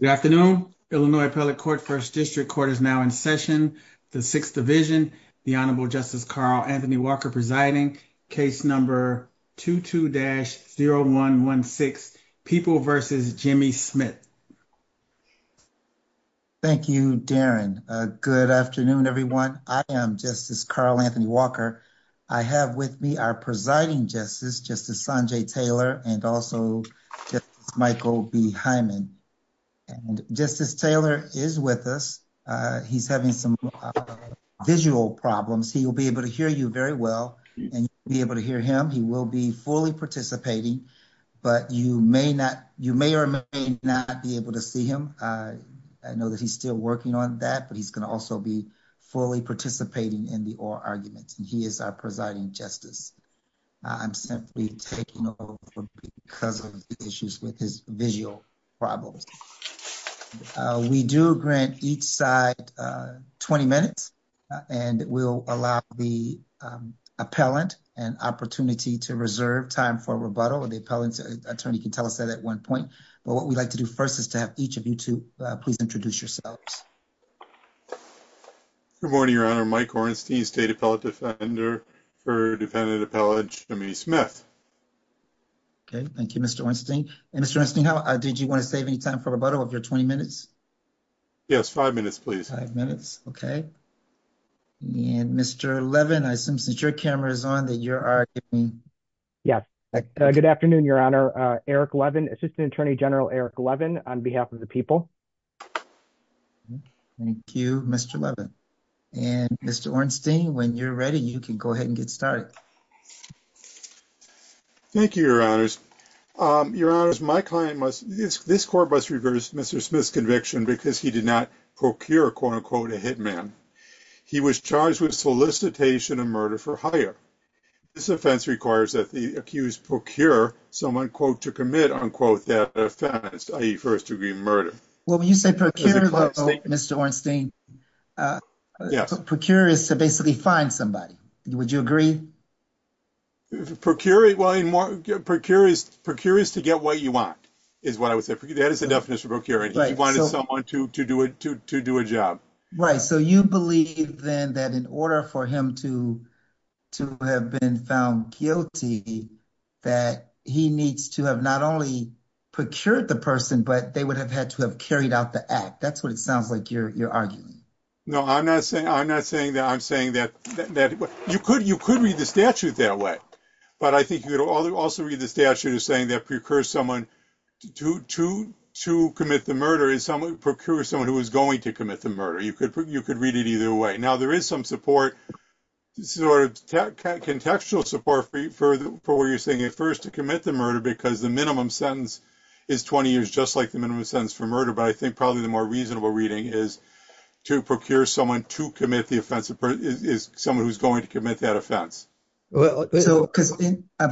Good afternoon. Illinois Appellate Court First District Court is now in session. The Sixth Division, the Honorable Justice Carl Anthony Walker presiding, case number 22-0116, People v. Jimmy Smith. Thank you, Darren. Good afternoon, everyone. I am Justice Carl Anthony Walker. I have with me our presiding justice, Justice Sanjay Taylor, and also Justice Michael B. Hyman. Justice Taylor is with us. He's having some visual problems. He will be able to hear you very well, and you'll be able to hear him. He will be fully participating, but you may or may not be able to see him. I know that he's still working on that, but he's going to also be fully participating in your arguments, and he is our presiding justice. I'm simply taking over because of the issues with his visual problems. We do grant each side 20 minutes, and we'll allow the appellant an opportunity to reserve time for rebuttal. The appellant attorney can tell us that at one point, but what we'd like to do first is to have each of you two please introduce yourselves. Good morning, Your Honor. Mike Ornstein, State Appellate Defender for Defendant Appellant Jimmy Smith. Okay, thank you, Mr. Ornstein. Mr. Ornstein, did you want to save any time for rebuttal of your 20 minutes? Yes, five minutes, please. Five minutes, okay. Mr. Levin, I assume since your camera is on, that you are giving... Yes, good afternoon, Your Honor. Eric Levin, Assistant Attorney General Eric Levin on behalf of the people. Thank you, Mr. Levin. And Mr. Ornstein, when you're ready, you can go ahead and get started. Thank you, Your Honors. Your Honors, my client must... This court must reverse Mr. Smith's conviction because he did not procure, quote-unquote, a hitman. He was charged with solicitation of murder for hire. This offense requires that the accused procure someone, quote, to commit, unquote, that offense, i.e. first-degree murder. Well, when you say procure, Mr. Ornstein, procure is to basically find somebody. Would you agree? Procure is to get what you want, is what I would say. That is the definition of procuring. He to have been found guilty, that he needs to have not only procured the person, but they would have had to have carried out the act. That's what it sounds like you're arguing. No, I'm not saying that. I'm saying that you could read the statute that way, but I think you could also read the statute as saying that procure someone to commit the murder is procure someone who is going to commit the murder. You could read it either way. Now, there is some support, sort of contextual support for what you're saying. First, to commit the murder because the minimum sentence is 20 years, just like the minimum sentence for murder, but I think probably the more reasonable reading is to procure someone to commit the offense is someone who's going to commit that offense. I'm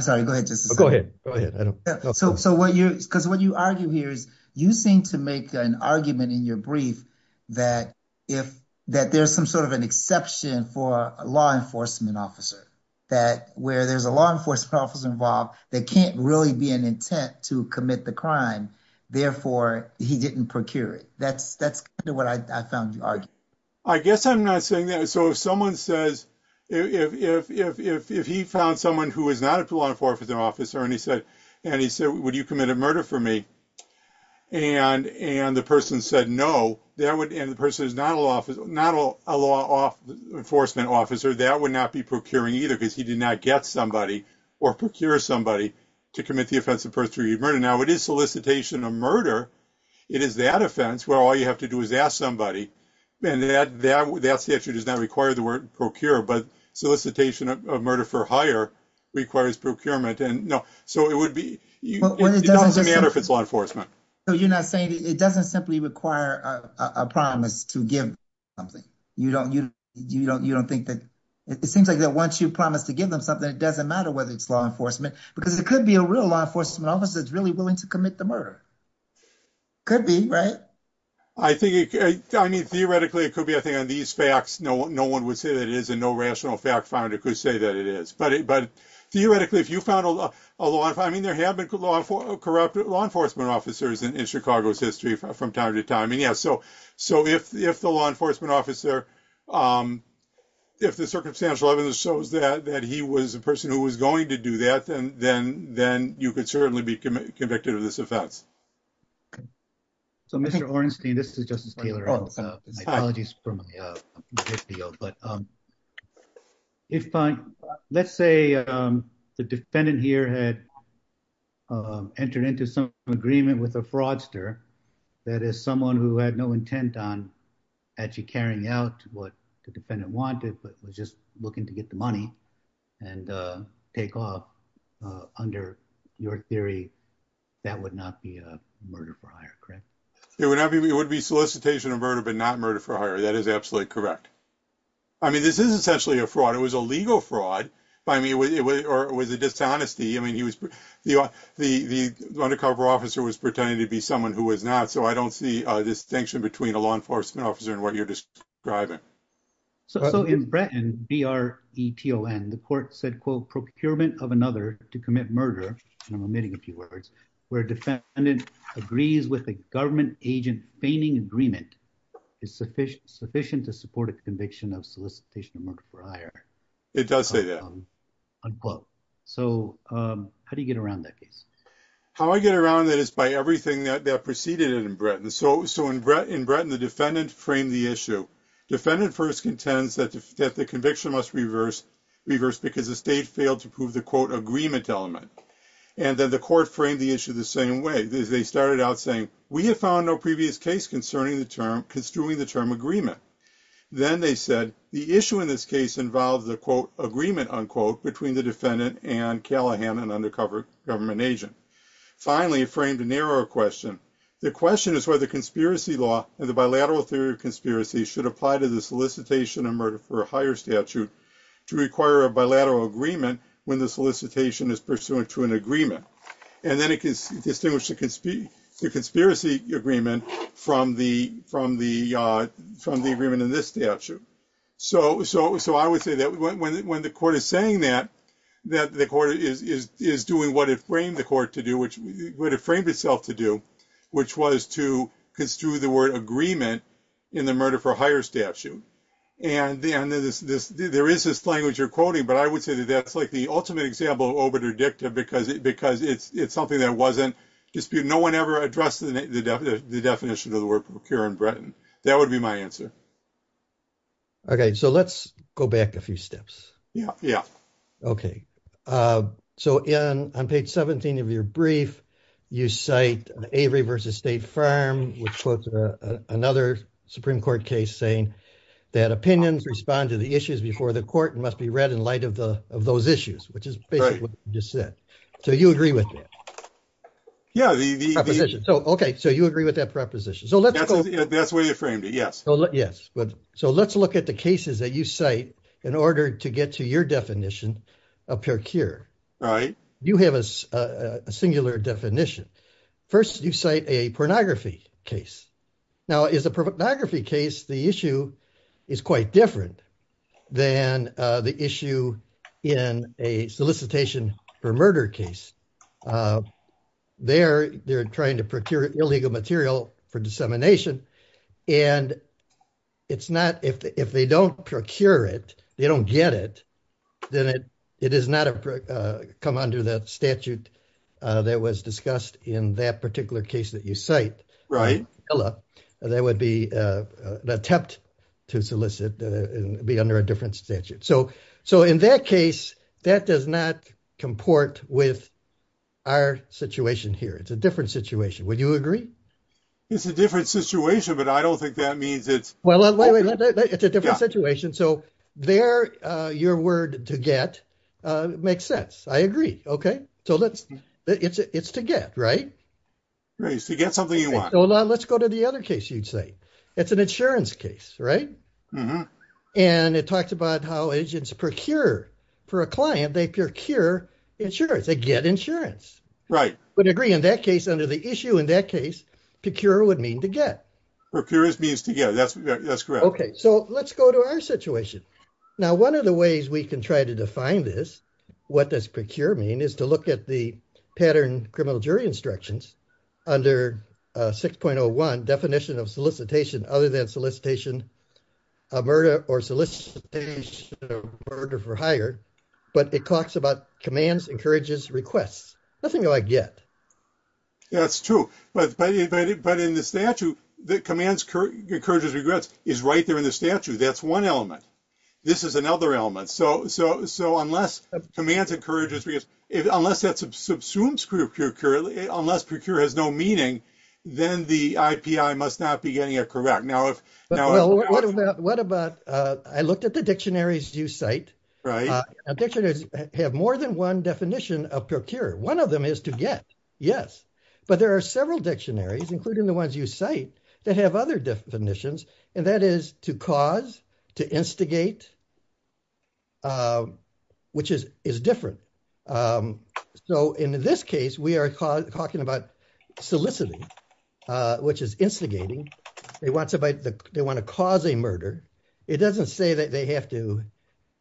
sorry. Go ahead. Go ahead. Because what you argue here is you seem to make an argument in your brief that there's an exception for a law enforcement officer, that where there's a law enforcement officer involved, there can't really be an intent to commit the crime. Therefore, he didn't procure it. That's what I found you arguing. I guess I'm not saying that. If he found someone who is not a law enforcement officer and he said, would you commit a murder for me? The person said no, and the person is not a law enforcement officer, that would not be procuring either because he did not get somebody or procure somebody to commit the offense of first degree murder. Now, it is solicitation of murder. It is that offense where all you have to do is ask somebody, and that statute does not require the word procure, but solicitation of murder for hire requires procurement. It doesn't matter if it's law enforcement. You're not saying it doesn't simply require a promise to give something. It seems like that once you promise to give them something, it doesn't matter whether it's law enforcement, because it could be a real law enforcement officer that's really willing to commit the murder. Could be, right? Theoretically, it could be. I think on these facts, no one would say that it is, and no rational fact finder could say that it is. Theoretically, if you found a law, there have been corrupt law enforcement officers in Chicago's history from time to time. If the law enforcement officer, if the circumstantial evidence shows that he was a person who was going to do that, then you could certainly be convicted of this offense. Mr. Orenstein, this is Justice Taylor. My apologies for my video. Let's say the defendant here had entered into some agreement with a fraudster, that is someone who had no intent on actually carrying out what the defendant wanted, but was just looking to get the money and take off. Under your theory, that would not be a murder for hire, correct? It would be solicitation of murder, but not murder for hire. That is absolutely correct. This is essentially a fraud. It was a legal fraud, or it was a dishonesty. The undercover officer was pretending to be someone who was not, so I don't see a distinction between a law enforcement officer and what you're describing. In Bretton, B-R-E-T-O-N, the court said, quote, procurement of another to commit murder, and I'm omitting a few words, where a defendant agrees with a government agent feigning agreement is sufficient to support a conviction of solicitation of murder for hire. It does say that. Unquote. How do you get around that case? How I get around that is by everything that preceded it in Bretton. In Bretton, the defendant framed the issue. Defendant first contends that the conviction must reverse because the state failed to prove the, quote, agreement element. Then the court framed the issue the same way. They started out saying, we have found no previous case concerning the term, construing the term agreement. Then they said, the issue in this case involves the, quote, agreement, unquote, between the defendant and Callahan, an undercover government agent. Finally, it framed a narrower question. The question is whether conspiracy law and the bilateral theory of conspiracy should apply to the solicitation of murder for hire statute to require a bilateral agreement when the solicitation is pursuant to an agreement. Then it can distinguish the conspiracy agreement from the agreement in this statute. I would say that when the court is saying that, the court is doing what it framed itself to do, which was to construe the word agreement in the murder for hire statute. There is this language you're quoting, but I would say that that's like the ultimate example because it's something that wasn't disputed. No one ever addressed the definition of the word procure in Bretton. That would be my answer. Okay, so let's go back a few steps. Yeah, yeah. Okay, so on page 17 of your brief, you cite Avery v. State Farm, which quotes another Supreme Court case saying that opinions respond to the issues before the court and must be read in light of those issues, which is basically what you just said. So you agree with that? Yeah. Okay, so you agree with that proposition. That's the way it framed it, yes. Yes, so let's look at the cases that you cite in order to get to your definition of procure. All right. You have a singular definition. First, you cite a pornography case. Now, a pornography case, the issue is quite different than the issue in a solicitation for murder case. They're trying to procure illegal material for dissemination, and if they don't procure it, they don't get it, then it does not come under the statute that was discussed in that particular case that you cite. Right. That would be an attempt to solicit and be under a different statute. So in that case, that does not comport with our situation here. It's a different situation. Would you agree? It's a different situation, but I don't think that means it's... Well, it's a different situation. So there, your word to get makes sense. I agree. Okay, so it's to get, right? Right. It's to get something you want. Hold on. Let's go to the other case you'd cite. It's an insurance case, right? And it talks about how agents procure for a client. They procure insurance. They get insurance. Right. But agree, in that case, under the issue in that case, procure would mean to get. Procure means to get. That's correct. Okay, so let's go to our situation. Now, one of the ways we can try to define this, what does procure mean, is to look at the pattern criminal jury instructions under 6.01, definition of solicitation other than solicitation of murder or solicitation of murder for hire, but it talks about commands, encourages, requests. Nothing like get. That's true, but in the statute, the commands, encourages, regrets is right there in the statute. That's one element. This is another element. So unless commands, encourages, unless procure has no meaning, then the IPI must not be getting it correct. What about, I looked at the dictionaries you cite. Right. Dictionaries have more than one definition of procure. One of them is to get, yes, but there are several dictionaries, including the ones you cite, that have other definitions, and that is to cause, to instigate, which is different. So in this case, we are talking about soliciting, which is instigating. They want to cause a murder. It doesn't say that they have to,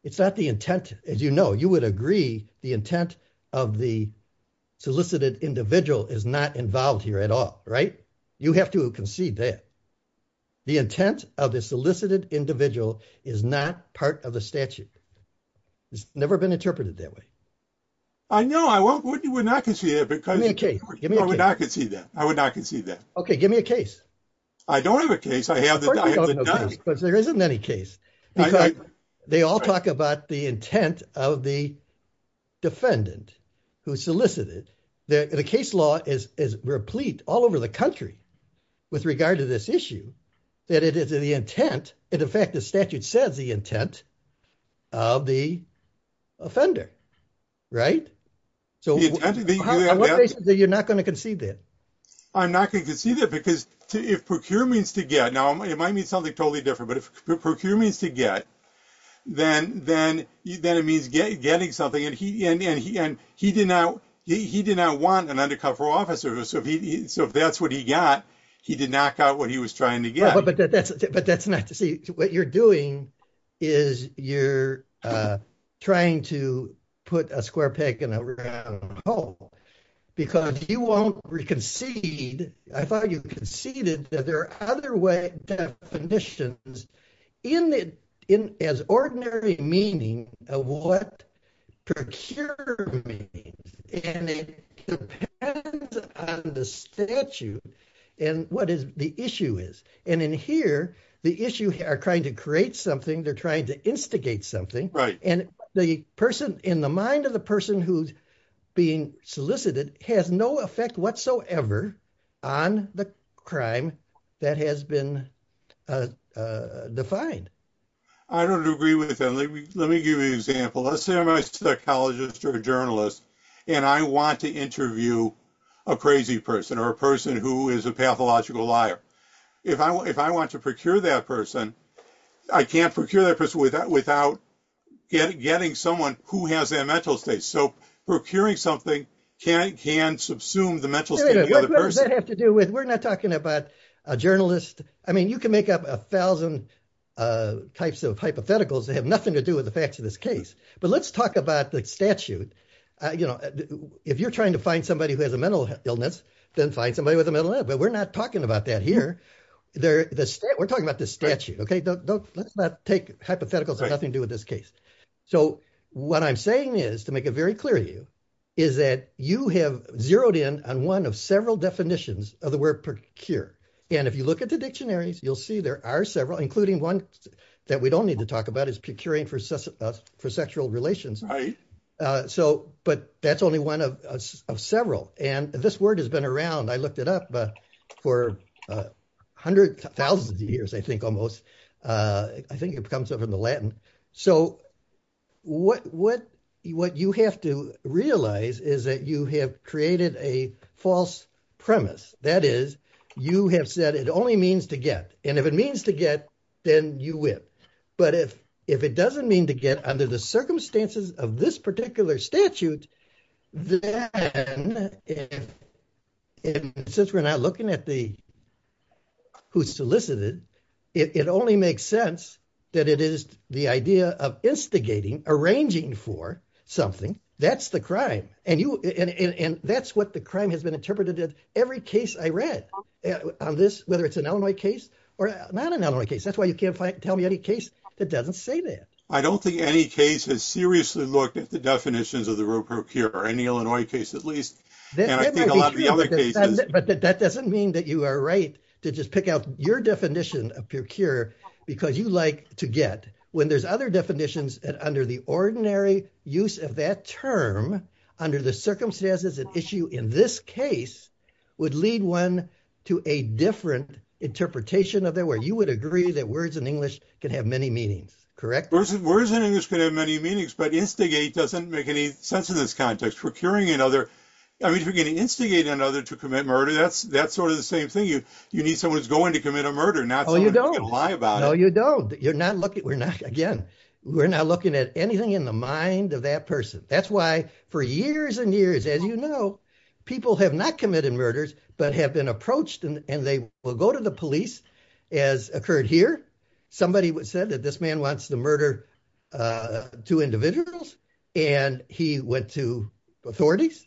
it's not the intent, as you know, you would agree the intent of the solicited individual is not involved here at all, right? You have to concede that. The intent of the solicited individual is not part of the statute. It's never been interpreted that way. I know, I would not concede that. Give me a case. I would not concede that. I would not concede that. Okay, give me a case. I don't have a case. There isn't any case. They all talk about the intent of the defendant who solicited. The case law is replete all over the country with regard to this issue, that it is the intent. In fact, the statute says the intent of the offender, right? On what basis are you not going to concede that? I'm not going to concede that because if procure means to get, now it might mean something totally different, but if procure means to get, then it means getting something. He did not want an undercover officer, so if that's what he got, he did not got what he was trying to get. But that's not to say, what you're doing is you're trying to put a square peg in a round hole because you won't concede. I thought you conceded that there are other definitions as ordinary meaning of what procure means, and it depends on the statute and what the issue is. And in here, the issue are trying to create something. They're trying to instigate something, and the person in the on the crime that has been defined. I don't agree with that. Let me give you an example. Let's say I'm a psychologist or a journalist, and I want to interview a crazy person or a person who is a pathological liar. If I want to procure that person, I can't procure that person without getting someone who has that mental state. So procuring something can subsume the mental state of the other person. We're not talking about a journalist. I mean, you can make up a thousand types of hypotheticals that have nothing to do with the facts of this case. But let's talk about the statute. If you're trying to find somebody who has a mental illness, then find somebody with a mental illness. But we're not talking about that here. We're talking about the statute, okay? Let's not take hypotheticals that have nothing to do with this case. So what I'm saying is, to make it very clear to you, is that you have on one of several definitions of the word procure. And if you look at the dictionaries, you'll see there are several, including one that we don't need to talk about, is procuring for sexual relations. But that's only one of several. And this word has been around, I looked it up, for hundreds, thousands of years, I think almost. I think it comes up in the Latin. So what you have to realize is that you have created a false premise. That is, you have said it only means to get. And if it means to get, then you win. But if it doesn't mean to get under the circumstances of this particular statute, then since we're not looking at who solicited, it only makes sense that it is the idea of instigating, arranging for something. That's the crime. And that's what the crime has been interpreted in every case I read, on this, whether it's an Illinois case or not an Illinois case. That's why you can't tell me any case that doesn't say that. I don't think any case has seriously looked at the definitions of the word procure, any Illinois case at least. And I think a lot of your definition of procure, because you like to get, when there's other definitions that under the ordinary use of that term, under the circumstances at issue in this case, would lead one to a different interpretation of that, where you would agree that words in English can have many meanings, correct? Words in English can have many meanings, but instigate doesn't make any sense in this context. Procuring another, I mean, if you're going to instigate another to commit murder, that's sort of the same thing. You need someone who's going to commit a murder, not someone who's going to lie about it. No, you don't. You're not looking, we're not, again, we're not looking at anything in the mind of that person. That's why for years and years, as you know, people have not committed murders, but have been approached and they will go to the police as occurred here. Somebody said that this man wants to murder two individuals. And he went to authorities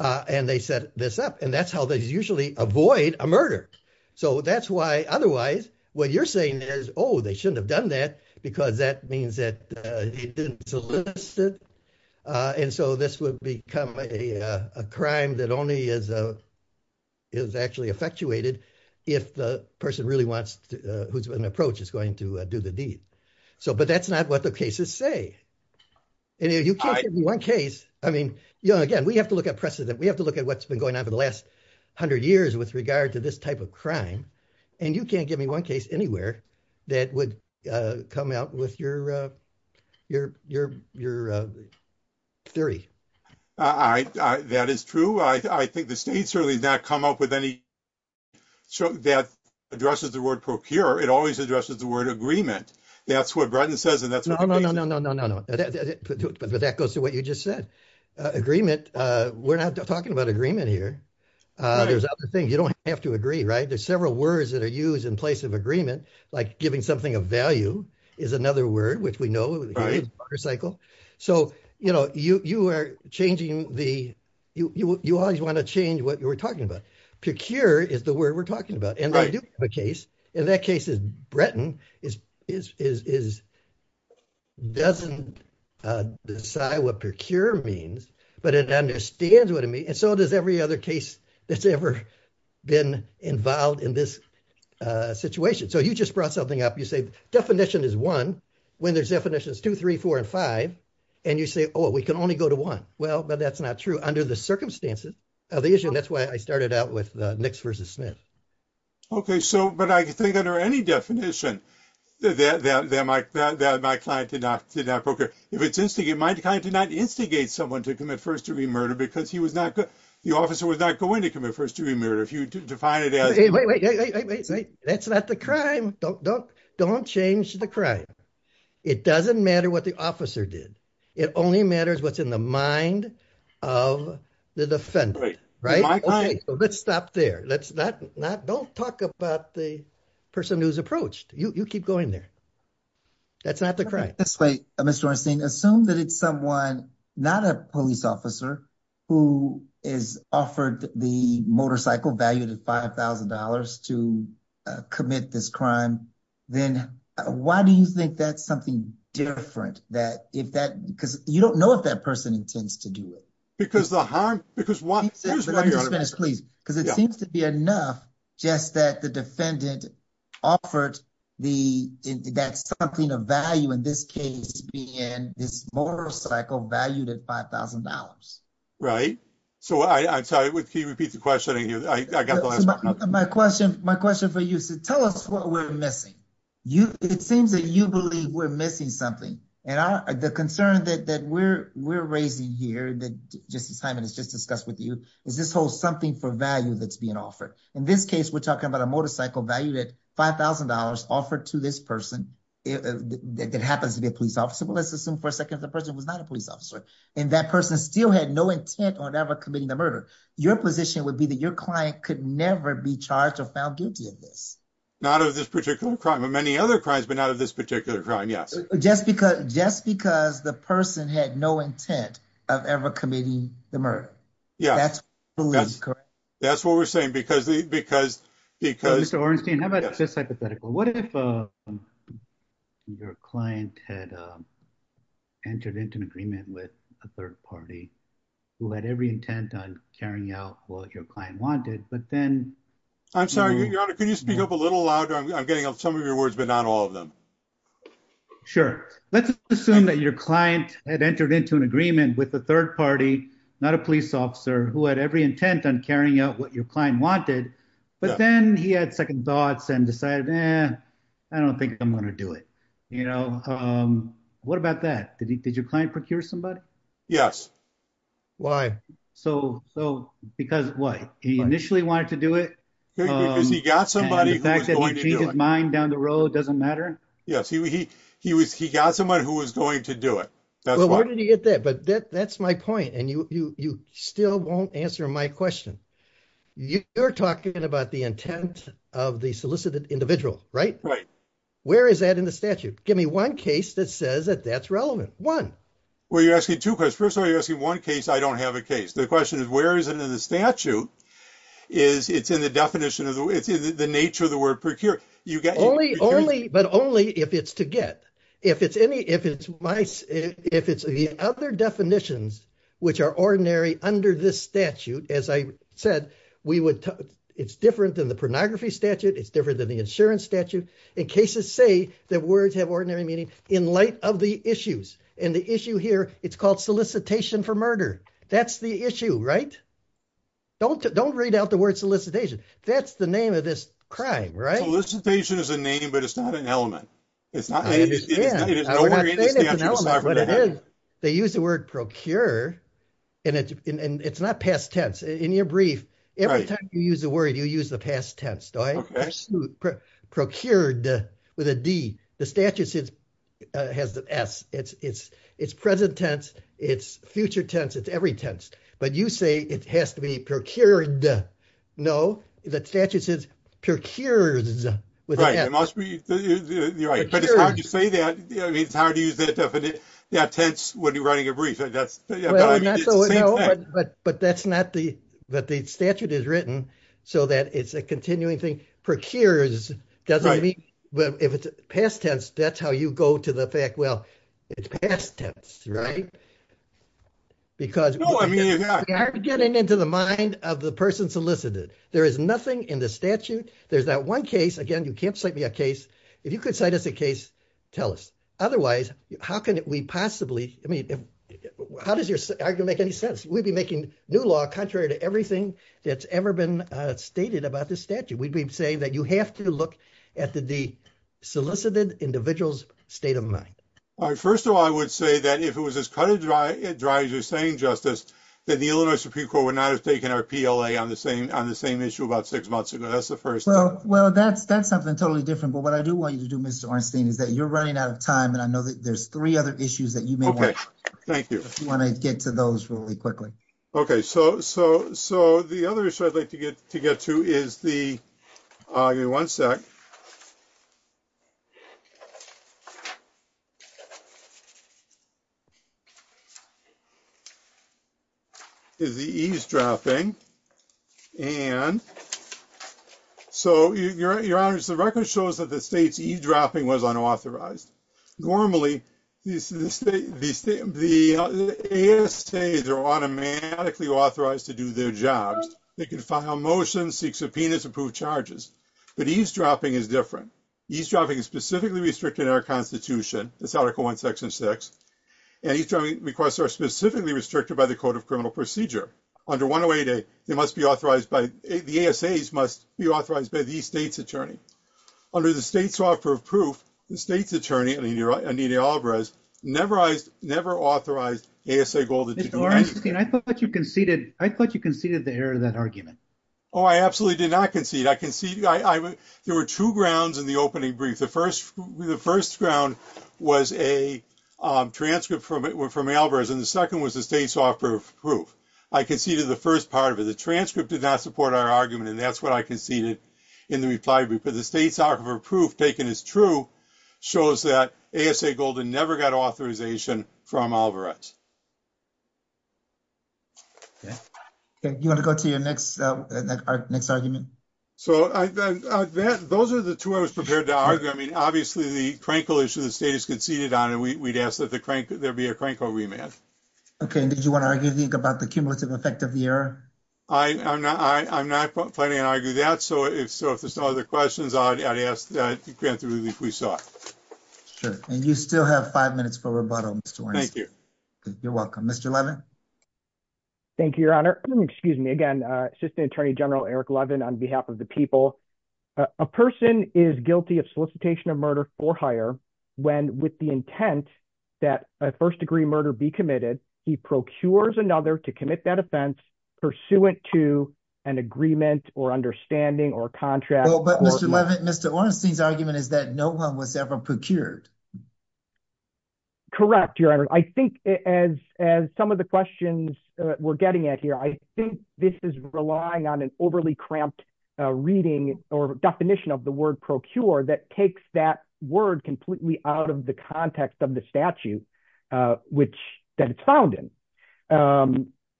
and they set this up. And that's how they usually avoid a murder. So that's why, otherwise, what you're saying is, oh, they shouldn't have done that because that means that he didn't solicit. And so this would become a crime that only is actually effectuated if the person really wants to, who's been approached, is going to do the deed. So, but that's not what the cases say. And if you can't give me one case, I mean, you know, again, we have to look at precedent. We have to look at what's been going on for the last hundred years with regard to this type of crime. And you can't give me one case anywhere that would come out with your theory. All right. That is true. I think the state certainly has not come up with any that addresses the word procure. It always addresses the word agreement. That's what Bretton says. No, no, no, no, no, no, no. But that goes to what you just said. Agreement. We're not talking about agreement here. There's other things. You don't have to agree, right? There's several words that are used in place of agreement, like giving something of value is another word, which we know. So, you know, you are changing the, you always want to change what you were talking about. Procure is the word we're talking about. And I do have a case. And that case is Bretton is doesn't decide what procure means, but it understands what I mean. And so does every other case that's ever been involved in this situation. So you just brought something up. You say definition is one when there's definitions two, three, four, and five. And you say, oh, we can only go to one. Well, but that's not true under the circumstances of the issue. And that's why I started out with the Nix versus Smith. Okay. So, but I think under any definition that my client did not procure. If it's instigated, my client did not instigate someone to commit first degree murder because he was not good. The officer was not going to commit first degree murder. If you define it as. Hey, wait, wait, wait, wait, wait. That's not the crime. Don't change the crime. It doesn't matter what the officer did. It only matters what's in the mind of the defendant, right? Let's stop there. Let's not, not don't talk about the person who's approached you. You keep going there. That's not the crime. That's right. Mr. Ornstein, assume that it's someone, not a police officer who is offered the motorcycle value to $5,000 to commit this crime. Then why do you think that's something different that if that, because you don't know if that person intends to do it. Because the harm, because one, because it seems to be enough just that the defendant offered the, that's something of value in this case, being in this motorcycle valued at $5,000. Right. So I, I'm sorry, can you repeat the question again? I got the last one. My question, my question for you is to tell us what we're missing. You, it seems that you believe we're missing something. And our, the concern that, that we're, we're raising here, that Justice Hyman has just discussed with you is this whole something for value that's being offered. In this case, we're talking about a motorcycle valued at $5,000 offered to this person that happens to be a police officer. But let's assume for a second, the person was not a police officer and that person still had no intent on ever committing the murder. Your position would be that your client could never be charged or found guilty of this. Not of this particular crime, of many other crimes, but not of this particular crime. Yes. Just because, just because the person had no intent of ever committing the murder. Yeah. That's what we're saying because, because, because. Mr. Ornstein, how about just hypothetical? What if your client had entered into an agreement with a third party who had every intent on carrying out what your client wanted, but then. I'm sorry, Your Honor, can you speak up a little louder? I'm getting some of your words, but not all of them. Sure. Let's assume that your client had entered into an agreement with a third party, not a police officer who had every intent on carrying out what your client wanted, but then he had second thoughts and decided, eh, I don't think I'm going to do it. You know, what about that? Did he, did your client procure somebody? Yes. Why? So, so because why? He initially wanted to do it. Because he got somebody who was going to do it. And the fact that he changed his mind down the road doesn't matter? Yes. He, he, he was, he got someone who was going to do it. That's why. Well, where did he get that? But that, that's my point. And you, you, you still won't answer my question. You're talking about the intent of the solicited individual, right? Right. Where is that in the statute? Give me one case that says that that's relevant. One. Well, you're asking two questions. First of all, you're asking one case. I don't have a case. The question is, where is it in the statute? Is it's in the definition of the, it's in the nature of the word procure. You get. Only, only, but only if it's to get, if it's any, if it's my, if it's the other definitions, which are ordinary under this statute, as I said, we would, it's different than the pornography statute. It's different than the insurance statute. In cases say that words have ordinary meaning in light of the issues and the issue here, it's called solicitation for murder. That's the issue, right? Don't, don't read out the word solicitation. That's the name of this crime, right? Solicitation is a name, but it's not an element. It's not. They use the word procure and it's, and it's not past tense in your brief. Every time you use a word, you use the past tense. Procured with a D the statutes is, has the S it's, it's, it's present tense. It's future tense. It's every tense, but you say it has to be procured. No, the statutes is procured. You're right. But it's hard to say that. I mean, it's hard to use that definite tense when you're writing a brief. That's right. But that's not the, that the statute is written so that it's a continuing thing. Procures doesn't mean, well, if it's past tense, that's how you go to the fact. Well, it's past tense, right? Because getting into the mind of the person solicited, there is nothing in the statute. There's that one case again, you can't cite me a case. If you could cite us a case, tell us otherwise, how can we possibly, I mean, how does your argument make any sense? We'd be making new law contrary to everything that's ever been stated about this statute. We'd be saying that you have to look at the D solicited individual's state of mind. First of all, I would say that if it was as cut and dry as you're saying justice, that the Illinois Supreme Court would not have taken our PLA on the same, on the same issue about six months ago. That's the first thing. Well, that's, that's something totally different. But what I do want you to do, Mr. Ornstein, is that you're running out of time, and I know that there's three other issues that you may want to get to those really quickly. Okay, thank you. Okay, so, so, so the other issue I'd like to get to get to is the, give me one sec, is the eavesdropping. And so, Your Honor, the record shows that the state's eavesdropping was unauthorized. Normally, the ASAs are automatically authorized to do their jobs. They can file motions, seek subpoenas, approve charges. But eavesdropping is different. Eavesdropping is specifically restricted in our Constitution, this Article 1, Section 6. And eavesdropping requests are specifically restricted by the Code of Criminal Procedure. Under 108A, they must be authorized by, the ASAs must be authorized by the state's attorney. Under the State Software of Proof, the state's attorney, Anita Alvarez, never authorized ASA Golda to do anything. Mr. Ornstein, I thought you conceded, I thought you conceded the error of that argument. Oh, I absolutely did not concede. I conceded, I, there were two grounds in the opening brief. The first, the first ground was a transcript from, from Alvarez, and the second was the State Software of Proof. I conceded the first part of it. The State Software of Proof, taken as true, shows that ASA Golda never got authorization from Alvarez. You want to go to your next, our next argument? So, I, that, those are the two I was prepared to argue. I mean, obviously, the crankle issue, the state has conceded on, and we'd ask that the crank, there be a crankle remand. Okay, and did you want to argue anything about the other questions? I'd ask that you grant the relief we sought. Sure, and you still have five minutes for rebuttal, Mr. Ornstein. Thank you. You're welcome. Mr. Levin? Thank you, Your Honor. Excuse me, again, Assistant Attorney General Eric Levin, on behalf of the people. A person is guilty of solicitation of murder for hire when, with the intent that a first-degree murder be committed, he procures another to commit that offense pursuant to an agreement or understanding or contract. Well, but, Mr. Levin, Mr. Ornstein's argument is that no one was ever procured. Correct, Your Honor. I think, as, as some of the questions we're getting at here, I think this is relying on an overly cramped reading or definition of the word procure that takes that word completely out of the context of the statute, which, that it's found in.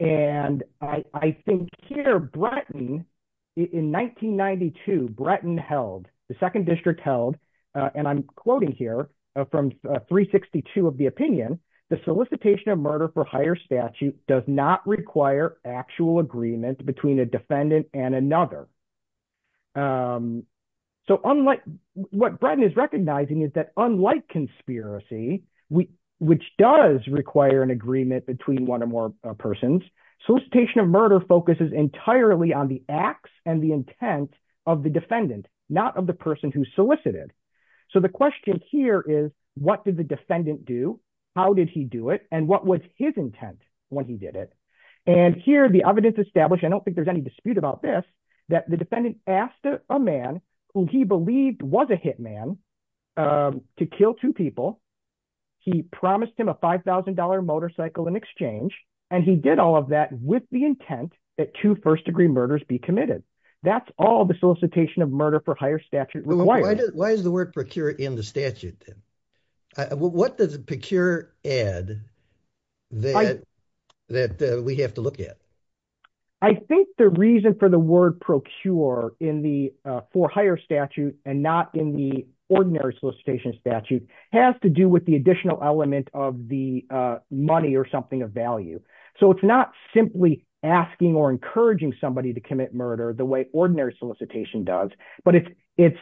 And I, I think here, Bretton, in 1992, Bretton held, the Second District held, and I'm quoting here from 362 of the opinion, the solicitation of murder for hire statute does not require actual agreement between a defendant and another. So unlike, what Bretton is recognizing is that unlike conspiracy, which does require an agreement between one or more persons, solicitation of murder focuses entirely on the acts and the intent of the defendant, not of the person who solicited. So the question here is, what did the defendant do? How did he do it? And what was his intent when he did it? And here, the evidence established, I don't think there's any dispute about this, that the defendant asked a man who he believed was a hit man, to kill two people. He promised him a $5,000 motorcycle in exchange. And he did all of that with the intent that two first degree murders be committed. That's all the solicitation of murder for hire statute requires. Why is the word procure in the statute? What does procure add that we have to look at? I think the reason for the word procure in the for hire statute and not in the ordinary solicitation statute has to do with the additional element of the money or something of value. So it's not simply asking or encouraging somebody to commit murder the way ordinary solicitation does, but it's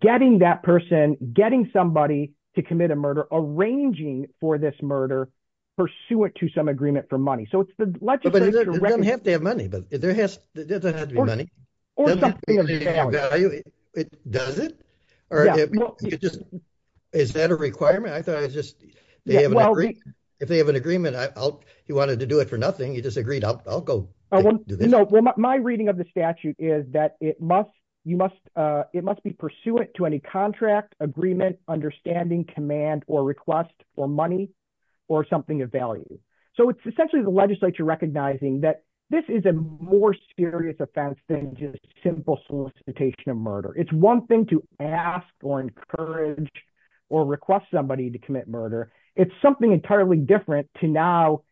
getting that person, getting somebody to commit a murder, arranging for this murder, pursuant to some agreement for money. So it's the legislature. But it doesn't have to have money, but there has to be money. Does it? Or is that a requirement? I thought it was just, if they have an agreement, you wanted to do it for nothing, you just agreed, I'll go. My reading of the statute is that it must be pursuant to any contract, agreement, understanding, command, or request for money or something of value. So it's essentially the legislature recognizing that this is a more serious offense than just simple solicitation of murder. It's one thing to ask or encourage or request somebody to commit murder. It's something entirely different to now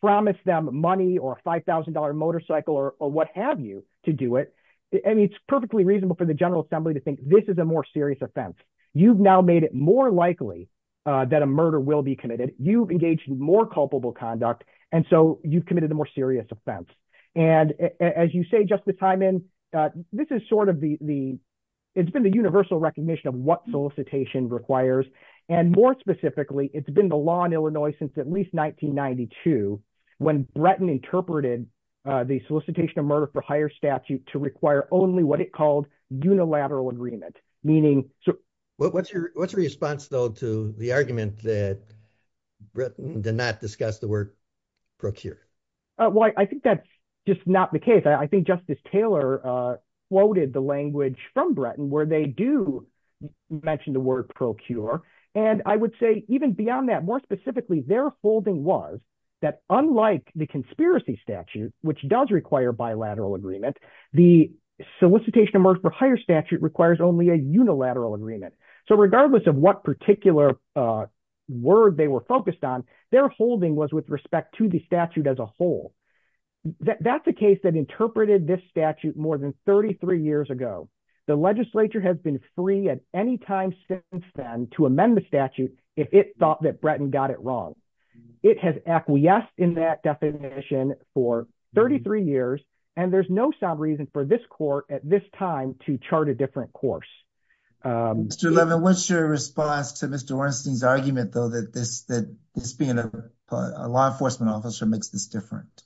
promise them money or a $5,000 motorcycle or what have you to do it. It's perfectly reasonable for the General Assembly to think this is a more serious offense. You've now made it more likely that a murder will be committed. You've engaged in more culpable conduct. And so you've committed a more serious offense. And as you say, Justice Hyman, this is sort of the, it's been the universal recognition of what solicitation requires. And more specifically, it's been the law in Illinois since at least 1992 when Bretton interpreted the solicitation of murder for higher statute to require only what it called unilateral agreement, meaning... What's your response though to the argument that Bretton did not discuss the word procure? Well, I think that's just not the case. I think Justice Taylor quoted the language from Bretton where they do mention the word procure. And I would say even beyond that, more specifically, their holding was that unlike the conspiracy statute, which does require bilateral agreement, the solicitation of murder for higher statute requires only a unilateral agreement. So regardless of what particular word they were focused on, their holding was with respect to the statute as a whole. That's a case that interpreted this statute more than 33 years ago. The legislature has been free at any time since then to amend the statute if it thought that Bretton got it wrong. It has acquiesced in that definition for 33 years, and there's no sound reason for this court at this time to chart a different course. Mr. Levin, what's your response to Mr. Ornstein's argument though that this being a law enforcement officer makes this different?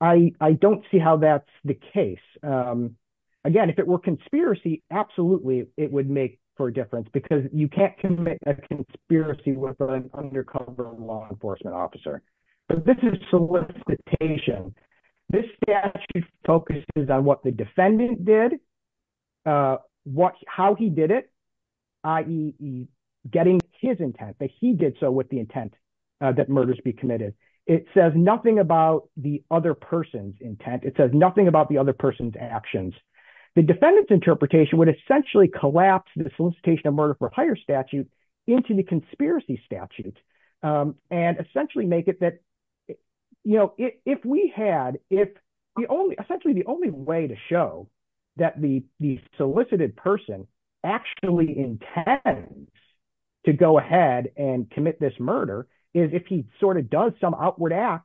I don't see how that's the case. Again, if it were conspiracy, absolutely it would make for a difference because you can't commit a conspiracy with an undercover law enforcement officer. But this is solicitation. This statute focuses on what the defendant did, how he did it, i.e. getting his intent, but he did so with the intent that murders be committed. It says nothing about the other person's intent. It says nothing about the other person's actions. The defendant's interpretation would essentially collapse the solicitation of murder for hire statute into the conspiracy statute and essentially make it that if we had... Essentially the only way to show that the solicited person actually intends to go ahead and commit this murder is if he does some outward act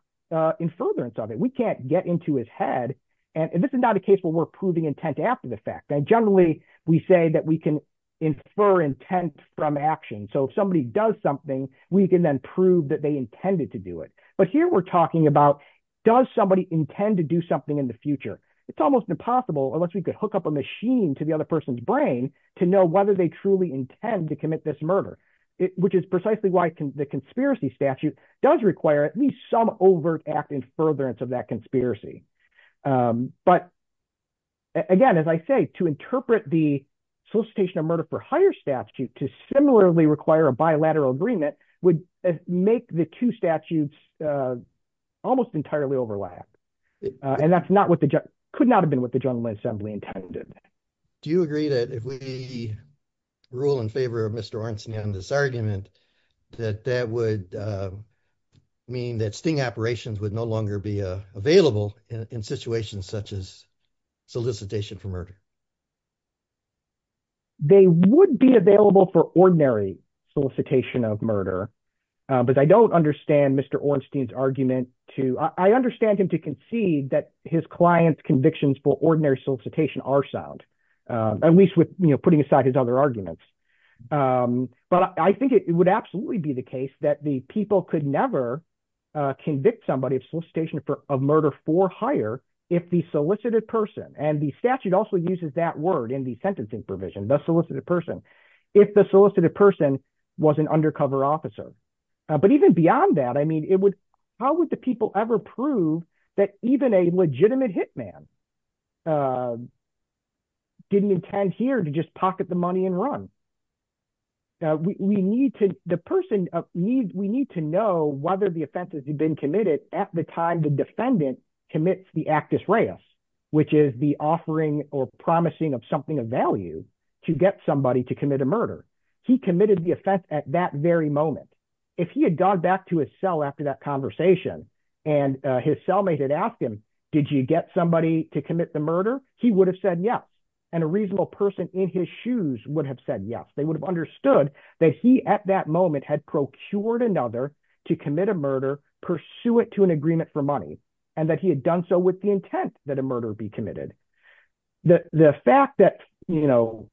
in furtherance of it. We can't get into his head. This is not a case where we're proving intent after the fact. Generally, we say that we can infer intent from action. If somebody does something, we can then prove that they intended to do it. But here we're talking about, does somebody intend to do something in the future? It's almost impossible, unless we could hook up a machine to the other person's brain to know whether they truly intend to commit this murder, which is precisely why the conspiracy statute does require at least some overt act in furtherance of that conspiracy. But again, as I say, to interpret the solicitation of murder for hire statute to similarly require a bilateral agreement would make the two statutes almost entirely overlapped. And that could not have been what the General Assembly intended. Do you agree that if we rule in favor of Mr. Ornstein on this argument, that that would mean that sting operations would no longer be available in situations such as solicitation for murder? They would be available for ordinary solicitation of murder. But I don't understand Mr. Ornstein's argument to, I understand him to concede that his client's convictions for ordinary solicitation are at least with putting aside his other arguments. But I think it would absolutely be the case that the people could never convict somebody of solicitation of murder for hire if the solicited person, and the statute also uses that word in the sentencing provision, the solicited person, if the solicited person was an undercover officer. But even beyond that, I mean, how would the people ever prove that even a legitimate hitman didn't intend here to just pocket the money and run? We need to know whether the offense has been committed at the time the defendant commits the actus reus, which is the offering or promising of something of value to get somebody to commit a murder. And his cellmate had asked him, did you get somebody to commit the murder? He would have said yes. And a reasonable person in his shoes would have said yes. They would have understood that he at that moment had procured another to commit a murder pursuant to an agreement for money and that he had done so with the intent that a murder be committed. The fact that, you know,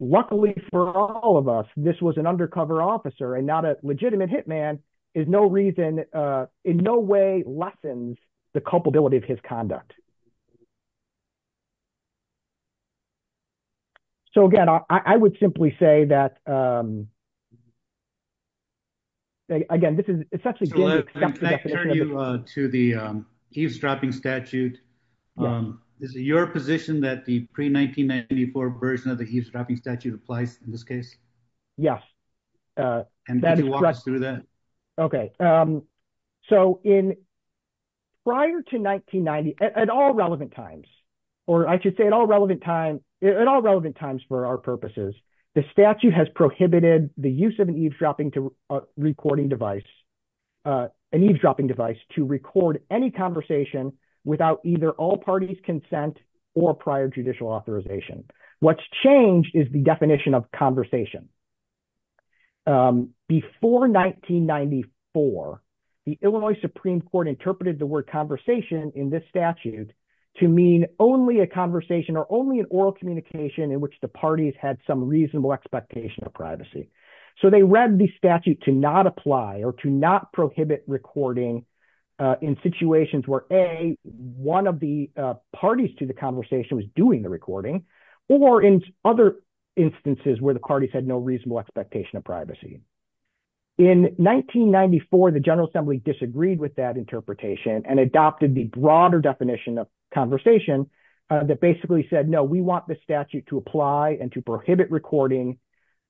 luckily for all of us, this was an undercover officer and not a legitimate hitman is no reason, in no way lessens the culpability of his conduct. So again, I would simply say that, again, this is essentially... So let me turn you to the eavesdropping statute. Is it your position that the pre-1994 version of the eavesdropping statute applies in this case? Yes. And could you walk us through that? Okay. So prior to 1990, at all relevant times, or I should say at all relevant times for our purposes, the statute has prohibited the use of an eavesdropping device to record any conversation without either all parties' consent or prior judicial authorization. What's changed is the for the Illinois Supreme Court interpreted the word conversation in this statute to mean only a conversation or only an oral communication in which the parties had some reasonable expectation of privacy. So they read the statute to not apply or to not prohibit recording in situations where, A, one of the parties to the conversation was doing the recording, or in other instances where parties had no reasonable expectation of privacy. In 1994, the General Assembly disagreed with that interpretation and adopted the broader definition of conversation that basically said, no, we want the statute to apply and to prohibit recording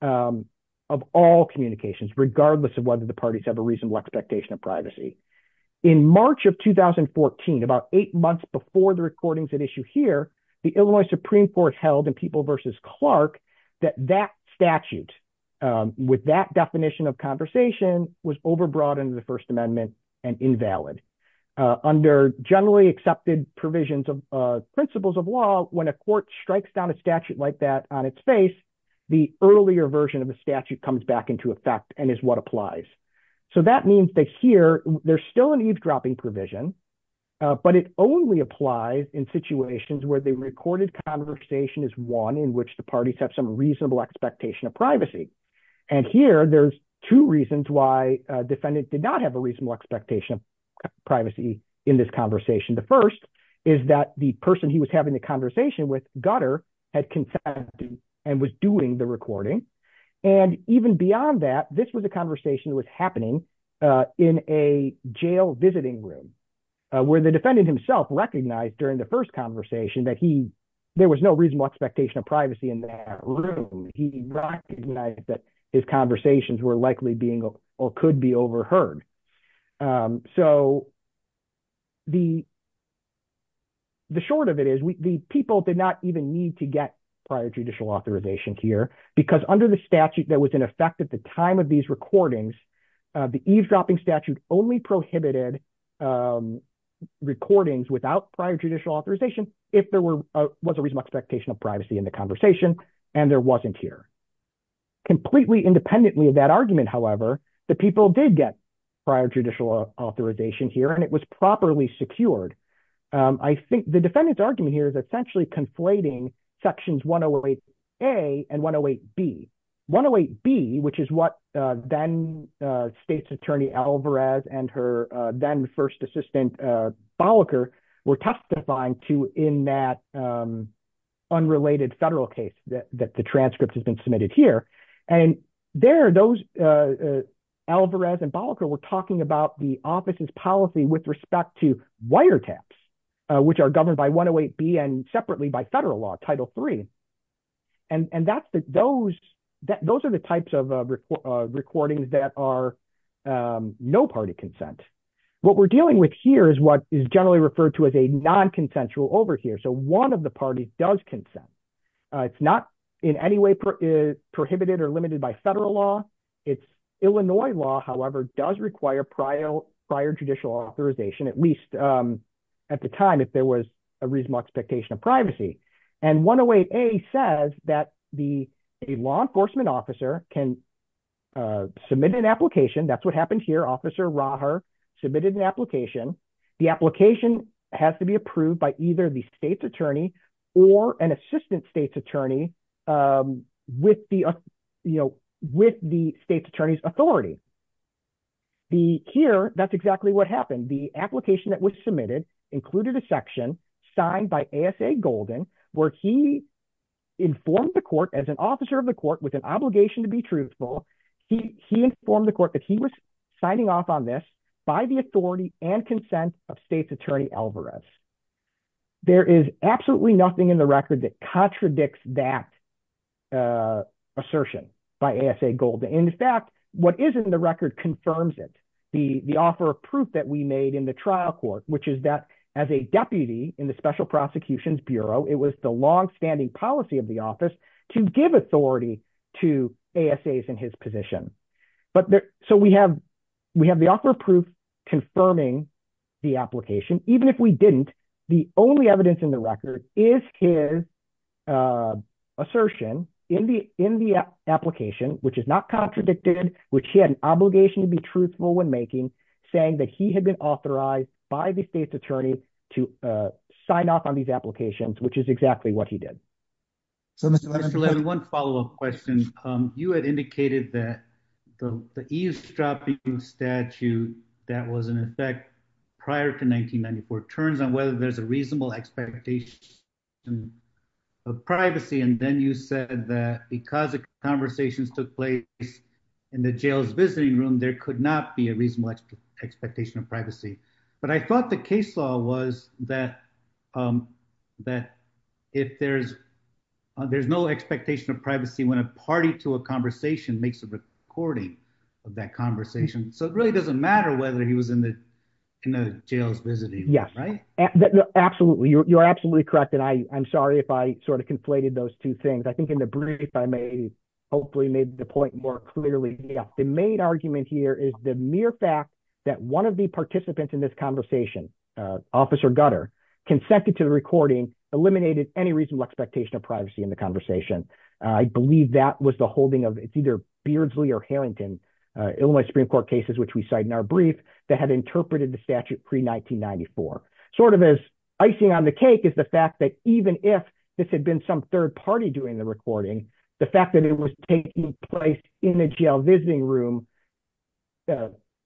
of all communications, regardless of whether the parties have a reasonable expectation of privacy. In March of 2014, about eight months before the issue here, the Illinois Supreme Court held in People v. Clark that that statute, with that definition of conversation, was overbroadened in the First Amendment and invalid. Under generally accepted provisions of principles of law, when a court strikes down a statute like that on its face, the earlier version of the statute comes back into effect and is what applies. So that means that there's still an eavesdropping provision, but it only applies in situations where the recorded conversation is one in which the parties have some reasonable expectation of privacy. And here there's two reasons why a defendant did not have a reasonable expectation of privacy in this conversation. The first is that the person he was having the conversation with, Gutter, had consented and was doing the recording. And even beyond that, this was a conversation that was happening in a jail visiting room, where the defendant himself recognized during the first conversation that there was no reasonable expectation of privacy in that room. He recognized that his conversations were likely being or could be overheard. So the short of it is the people did not even need to get prior judicial authorization here, because under the effect at the time of these recordings, the eavesdropping statute only prohibited recordings without prior judicial authorization if there was a reasonable expectation of privacy in the conversation and there wasn't here. Completely independently of that argument, however, the people did get prior judicial authorization here and it was properly secured. I think the argument here is essentially conflating sections 108A and 108B. 108B, which is what then state's attorney Alvarez and her then first assistant Bolliker were testifying to in that unrelated federal case that the transcript has been submitted here. And there, Alvarez and Bolliker were talking about the office's policy with respect to wiretaps, which are governed by separately by federal law, Title III. And those are the types of recordings that are no party consent. What we're dealing with here is what is generally referred to as a non-consensual overhear. So one of the parties does consent. It's not in any way prohibited or limited by federal law. It's Illinois law, however, does require prior judicial authorization, at least at the time there was a reasonable expectation of privacy. And 108A says that the law enforcement officer can submit an application. That's what happened here. Officer Raher submitted an application. The application has to be approved by either the state's attorney or an assistant state's attorney with the state's attorney's authority. Here, that's exactly what happened. The application that was submitted included a section signed by ASA Golding, where he informed the court as an officer of the court with an obligation to be truthful. He informed the court that he was signing off on this by the authority and consent of state's attorney Alvarez. There is absolutely nothing in the record that contradicts that assertion by ASA Golding. In fact, what is in the record confirms it. The offer of proof that we made in the trial court, which is that as a deputy in the Special Prosecutions Bureau, it was the longstanding policy of the office to give authority to ASAs in his position. So we have the offer of proof confirming the application. Even if we didn't, the only evidence in the record is his assertion in the application, which is not contradicted, which he had an obligation to be truthful when making, saying that he had been authorized by the state's attorney to sign off on these applications, which is exactly what he did. So, Mr. Lehman, one follow-up question. You had indicated that the eavesdropping statute that was in effect prior to 1994 turns on whether there's a reasonable expectation of privacy. And then you said that because the conversations took place in the jail's visiting room, there could not be a reasonable expectation of privacy. But I thought the case law was that if there's no expectation of privacy when a party to a conversation makes a recording of that conversation. So it really doesn't matter whether he was in the jail's visiting room, right? Absolutely. You're absolutely correct. And I'm sorry if I sort of conflated those two things. I think in the brief, I may hopefully made the point more clearly. The main argument here is the mere fact that one of the participants in this conversation, Officer Gutter, consented to the recording, eliminated any reasonable expectation of privacy in the conversation. I believe that was the holding of either Beardsley or Harrington, Illinois Supreme Court cases, which we cite in our brief, that had interpreted the statute pre-1994. Sort of as icing on the cake is the fact that even if this had been some third party doing the recording, the fact that it was taking place in a jail visiting room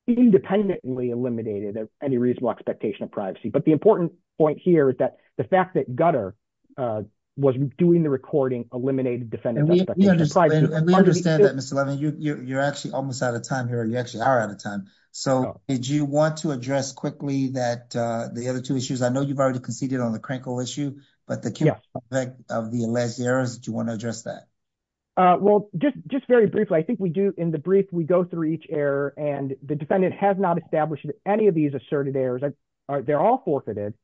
independently eliminated any reasonable expectation of privacy. But the important point here is that the fact that Gutter was doing the recording eliminated defendant's expectation of privacy. We understand that, Mr. Levin. You're actually almost out of time here. You actually are out of time. So did you want to address quickly that the other two issues? I know you've already conceded on the Krenkel issue, but the key aspect of the alleged errors, do you want to address that? Well, just very briefly, I think we do in the brief, we go through each error and the defendant has not established any of these asserted errors. They're all forfeited.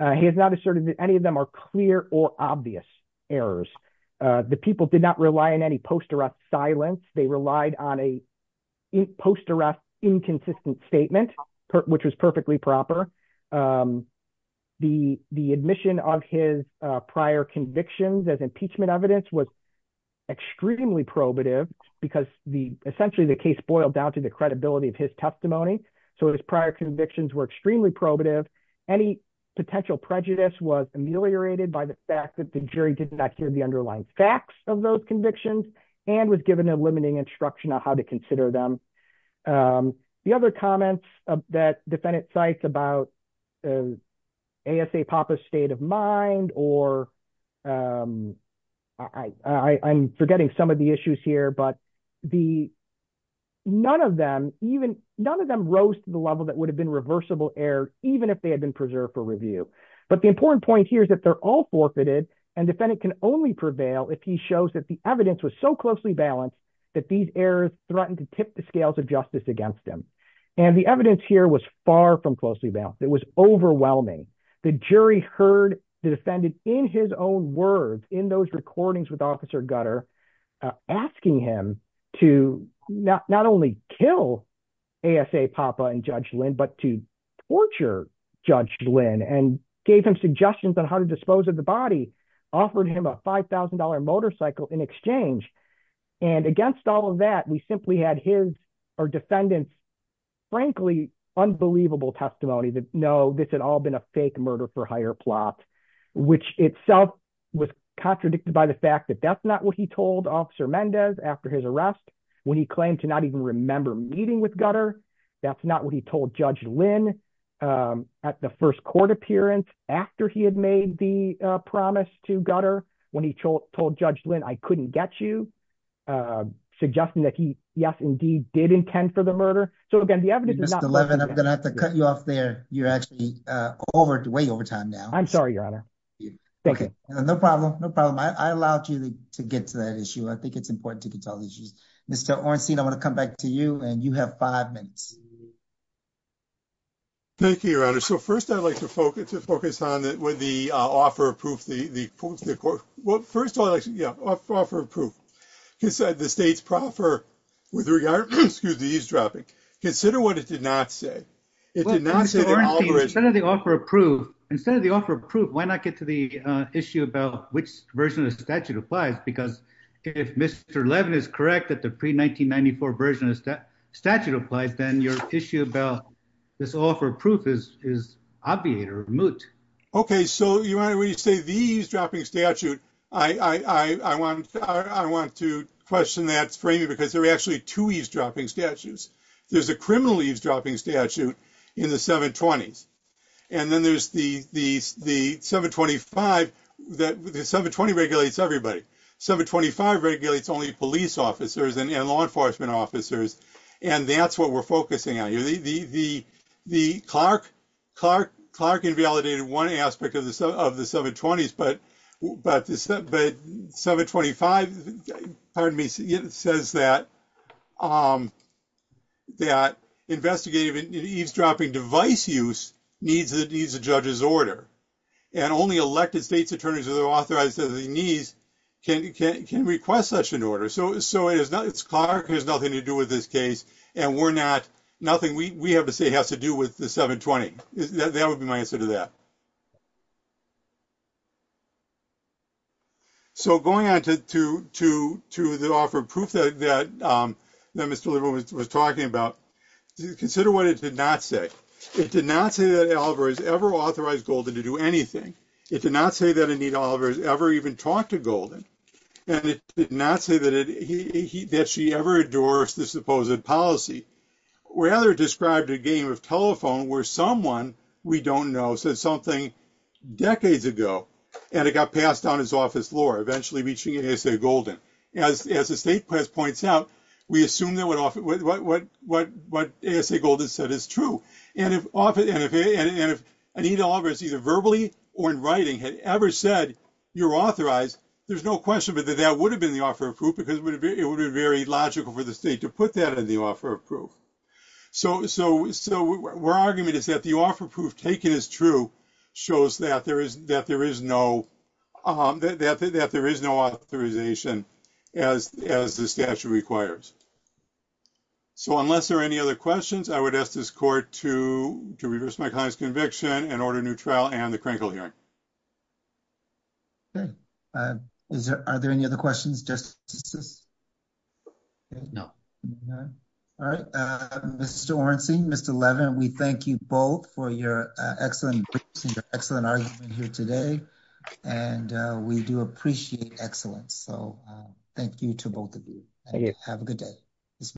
He has not asserted that are clear or obvious errors. The people did not rely on any post-arrest silence. They relied on a post-arrest inconsistent statement, which was perfectly proper. The admission of his prior convictions as impeachment evidence was extremely probative because essentially the case boiled down to the credibility of his testimony. So his prior convictions were extremely probative. Any potential prejudice was ameliorated by the fact that the jury did not hear the underlying facts of those convictions and was given a limiting instruction on how to consider them. The other comments that defendant cites about ASA Papa's state of mind, or I'm forgetting some of the issues here, but none of them rose to the level that would have been preserved for review. But the important point here is that they're all forfeited and defendant can only prevail if he shows that the evidence was so closely balanced that these errors threatened to tip the scales of justice against him. And the evidence here was far from closely balanced. It was overwhelming. The jury heard the defendant in his own words, in those recordings with officer Judge Lynn and gave him suggestions on how to dispose of the body, offered him a $5,000 motorcycle in exchange. And against all of that, we simply had his or defendant's frankly unbelievable testimony that no, this had all been a fake murder for hire plot, which itself was contradicted by the fact that that's not what he told officer Mendez after his arrest when he claimed to not even remember meeting with Gutter. That's not what he told Judge Lynn at the first court appearance after he had made the promise to Gutter when he told Judge Lynn, I couldn't get you, suggesting that he yes, indeed did intend for the murder. So again, the evidence is not- Mr. Levin, I'm going to have to cut you off there. You're actually way over time now. I'm sorry, your honor. Thank you. No problem. No problem. I allowed you to get to that issue. I think it's important to get to all these issues. Mr. Ornstein, I want to come back to you and you have five minutes. Thank you, your honor. So first I'd like to focus on with the offer of proof, the court. Well, first of all, yeah, offer of proof. The state's proffer with regard, excuse the eavesdropping, consider what it did not say. Instead of the offer of proof, why not get to the issue about which version of the statute applies? Because if Mr. Levin is correct that the pre-1994 version of the statute applies, then your issue about this offer of proof is obviate or moot. Okay. So your honor, when you say the eavesdropping statute, I want to question that framing because there are actually two eavesdropping statutes. There's a criminal eavesdropping statute in the 720s. And then the 720 regulates everybody. 720 regulates only police officers and law enforcement officers. And that's what we're focusing on. Clark invalidated one aspect of the 720s, but the 725, pardon me, says that investigative eavesdropping device use needs a judge's order. And only elected state's attorneys are authorized as he needs can request such an order. So it's Clark, has nothing to do with this case. And we're not, nothing we have to say has to do with the 720. That would be my answer to that. So going on to the offer of proof that Mr. Levin was talking about, consider what it did not say. It did not say that Oliver has ever authorized Golden to do anything. It did not say that Anita Oliver has ever even talked to Golden. And it did not say that she ever endorsed the supposed policy. Rather it described a game of telephone where someone we don't know said something decades ago and it got passed down as office lore, eventually reaching ASA Golden. As the state press points out, we assume that what ASA Golden said is true. And if Anita Oliver is either verbally or in writing had ever said you're authorized, there's no question that that would have been the offer of proof because it would be very logical for the state to put that in the offer of proof. So we're arguing is that the proof taken is true shows that there is no authorization as the statute requires. So unless there are any other questions, I would ask this court to reverse my client's conviction and order a new trial and the crinkle hearing. Okay. Are there any other questions, Justices? No. All right. Mr. Ornstein, Mr. Levin, we thank you both for your excellent argument here today. And we do appreciate excellence. So thank you to both of you. Have a good day.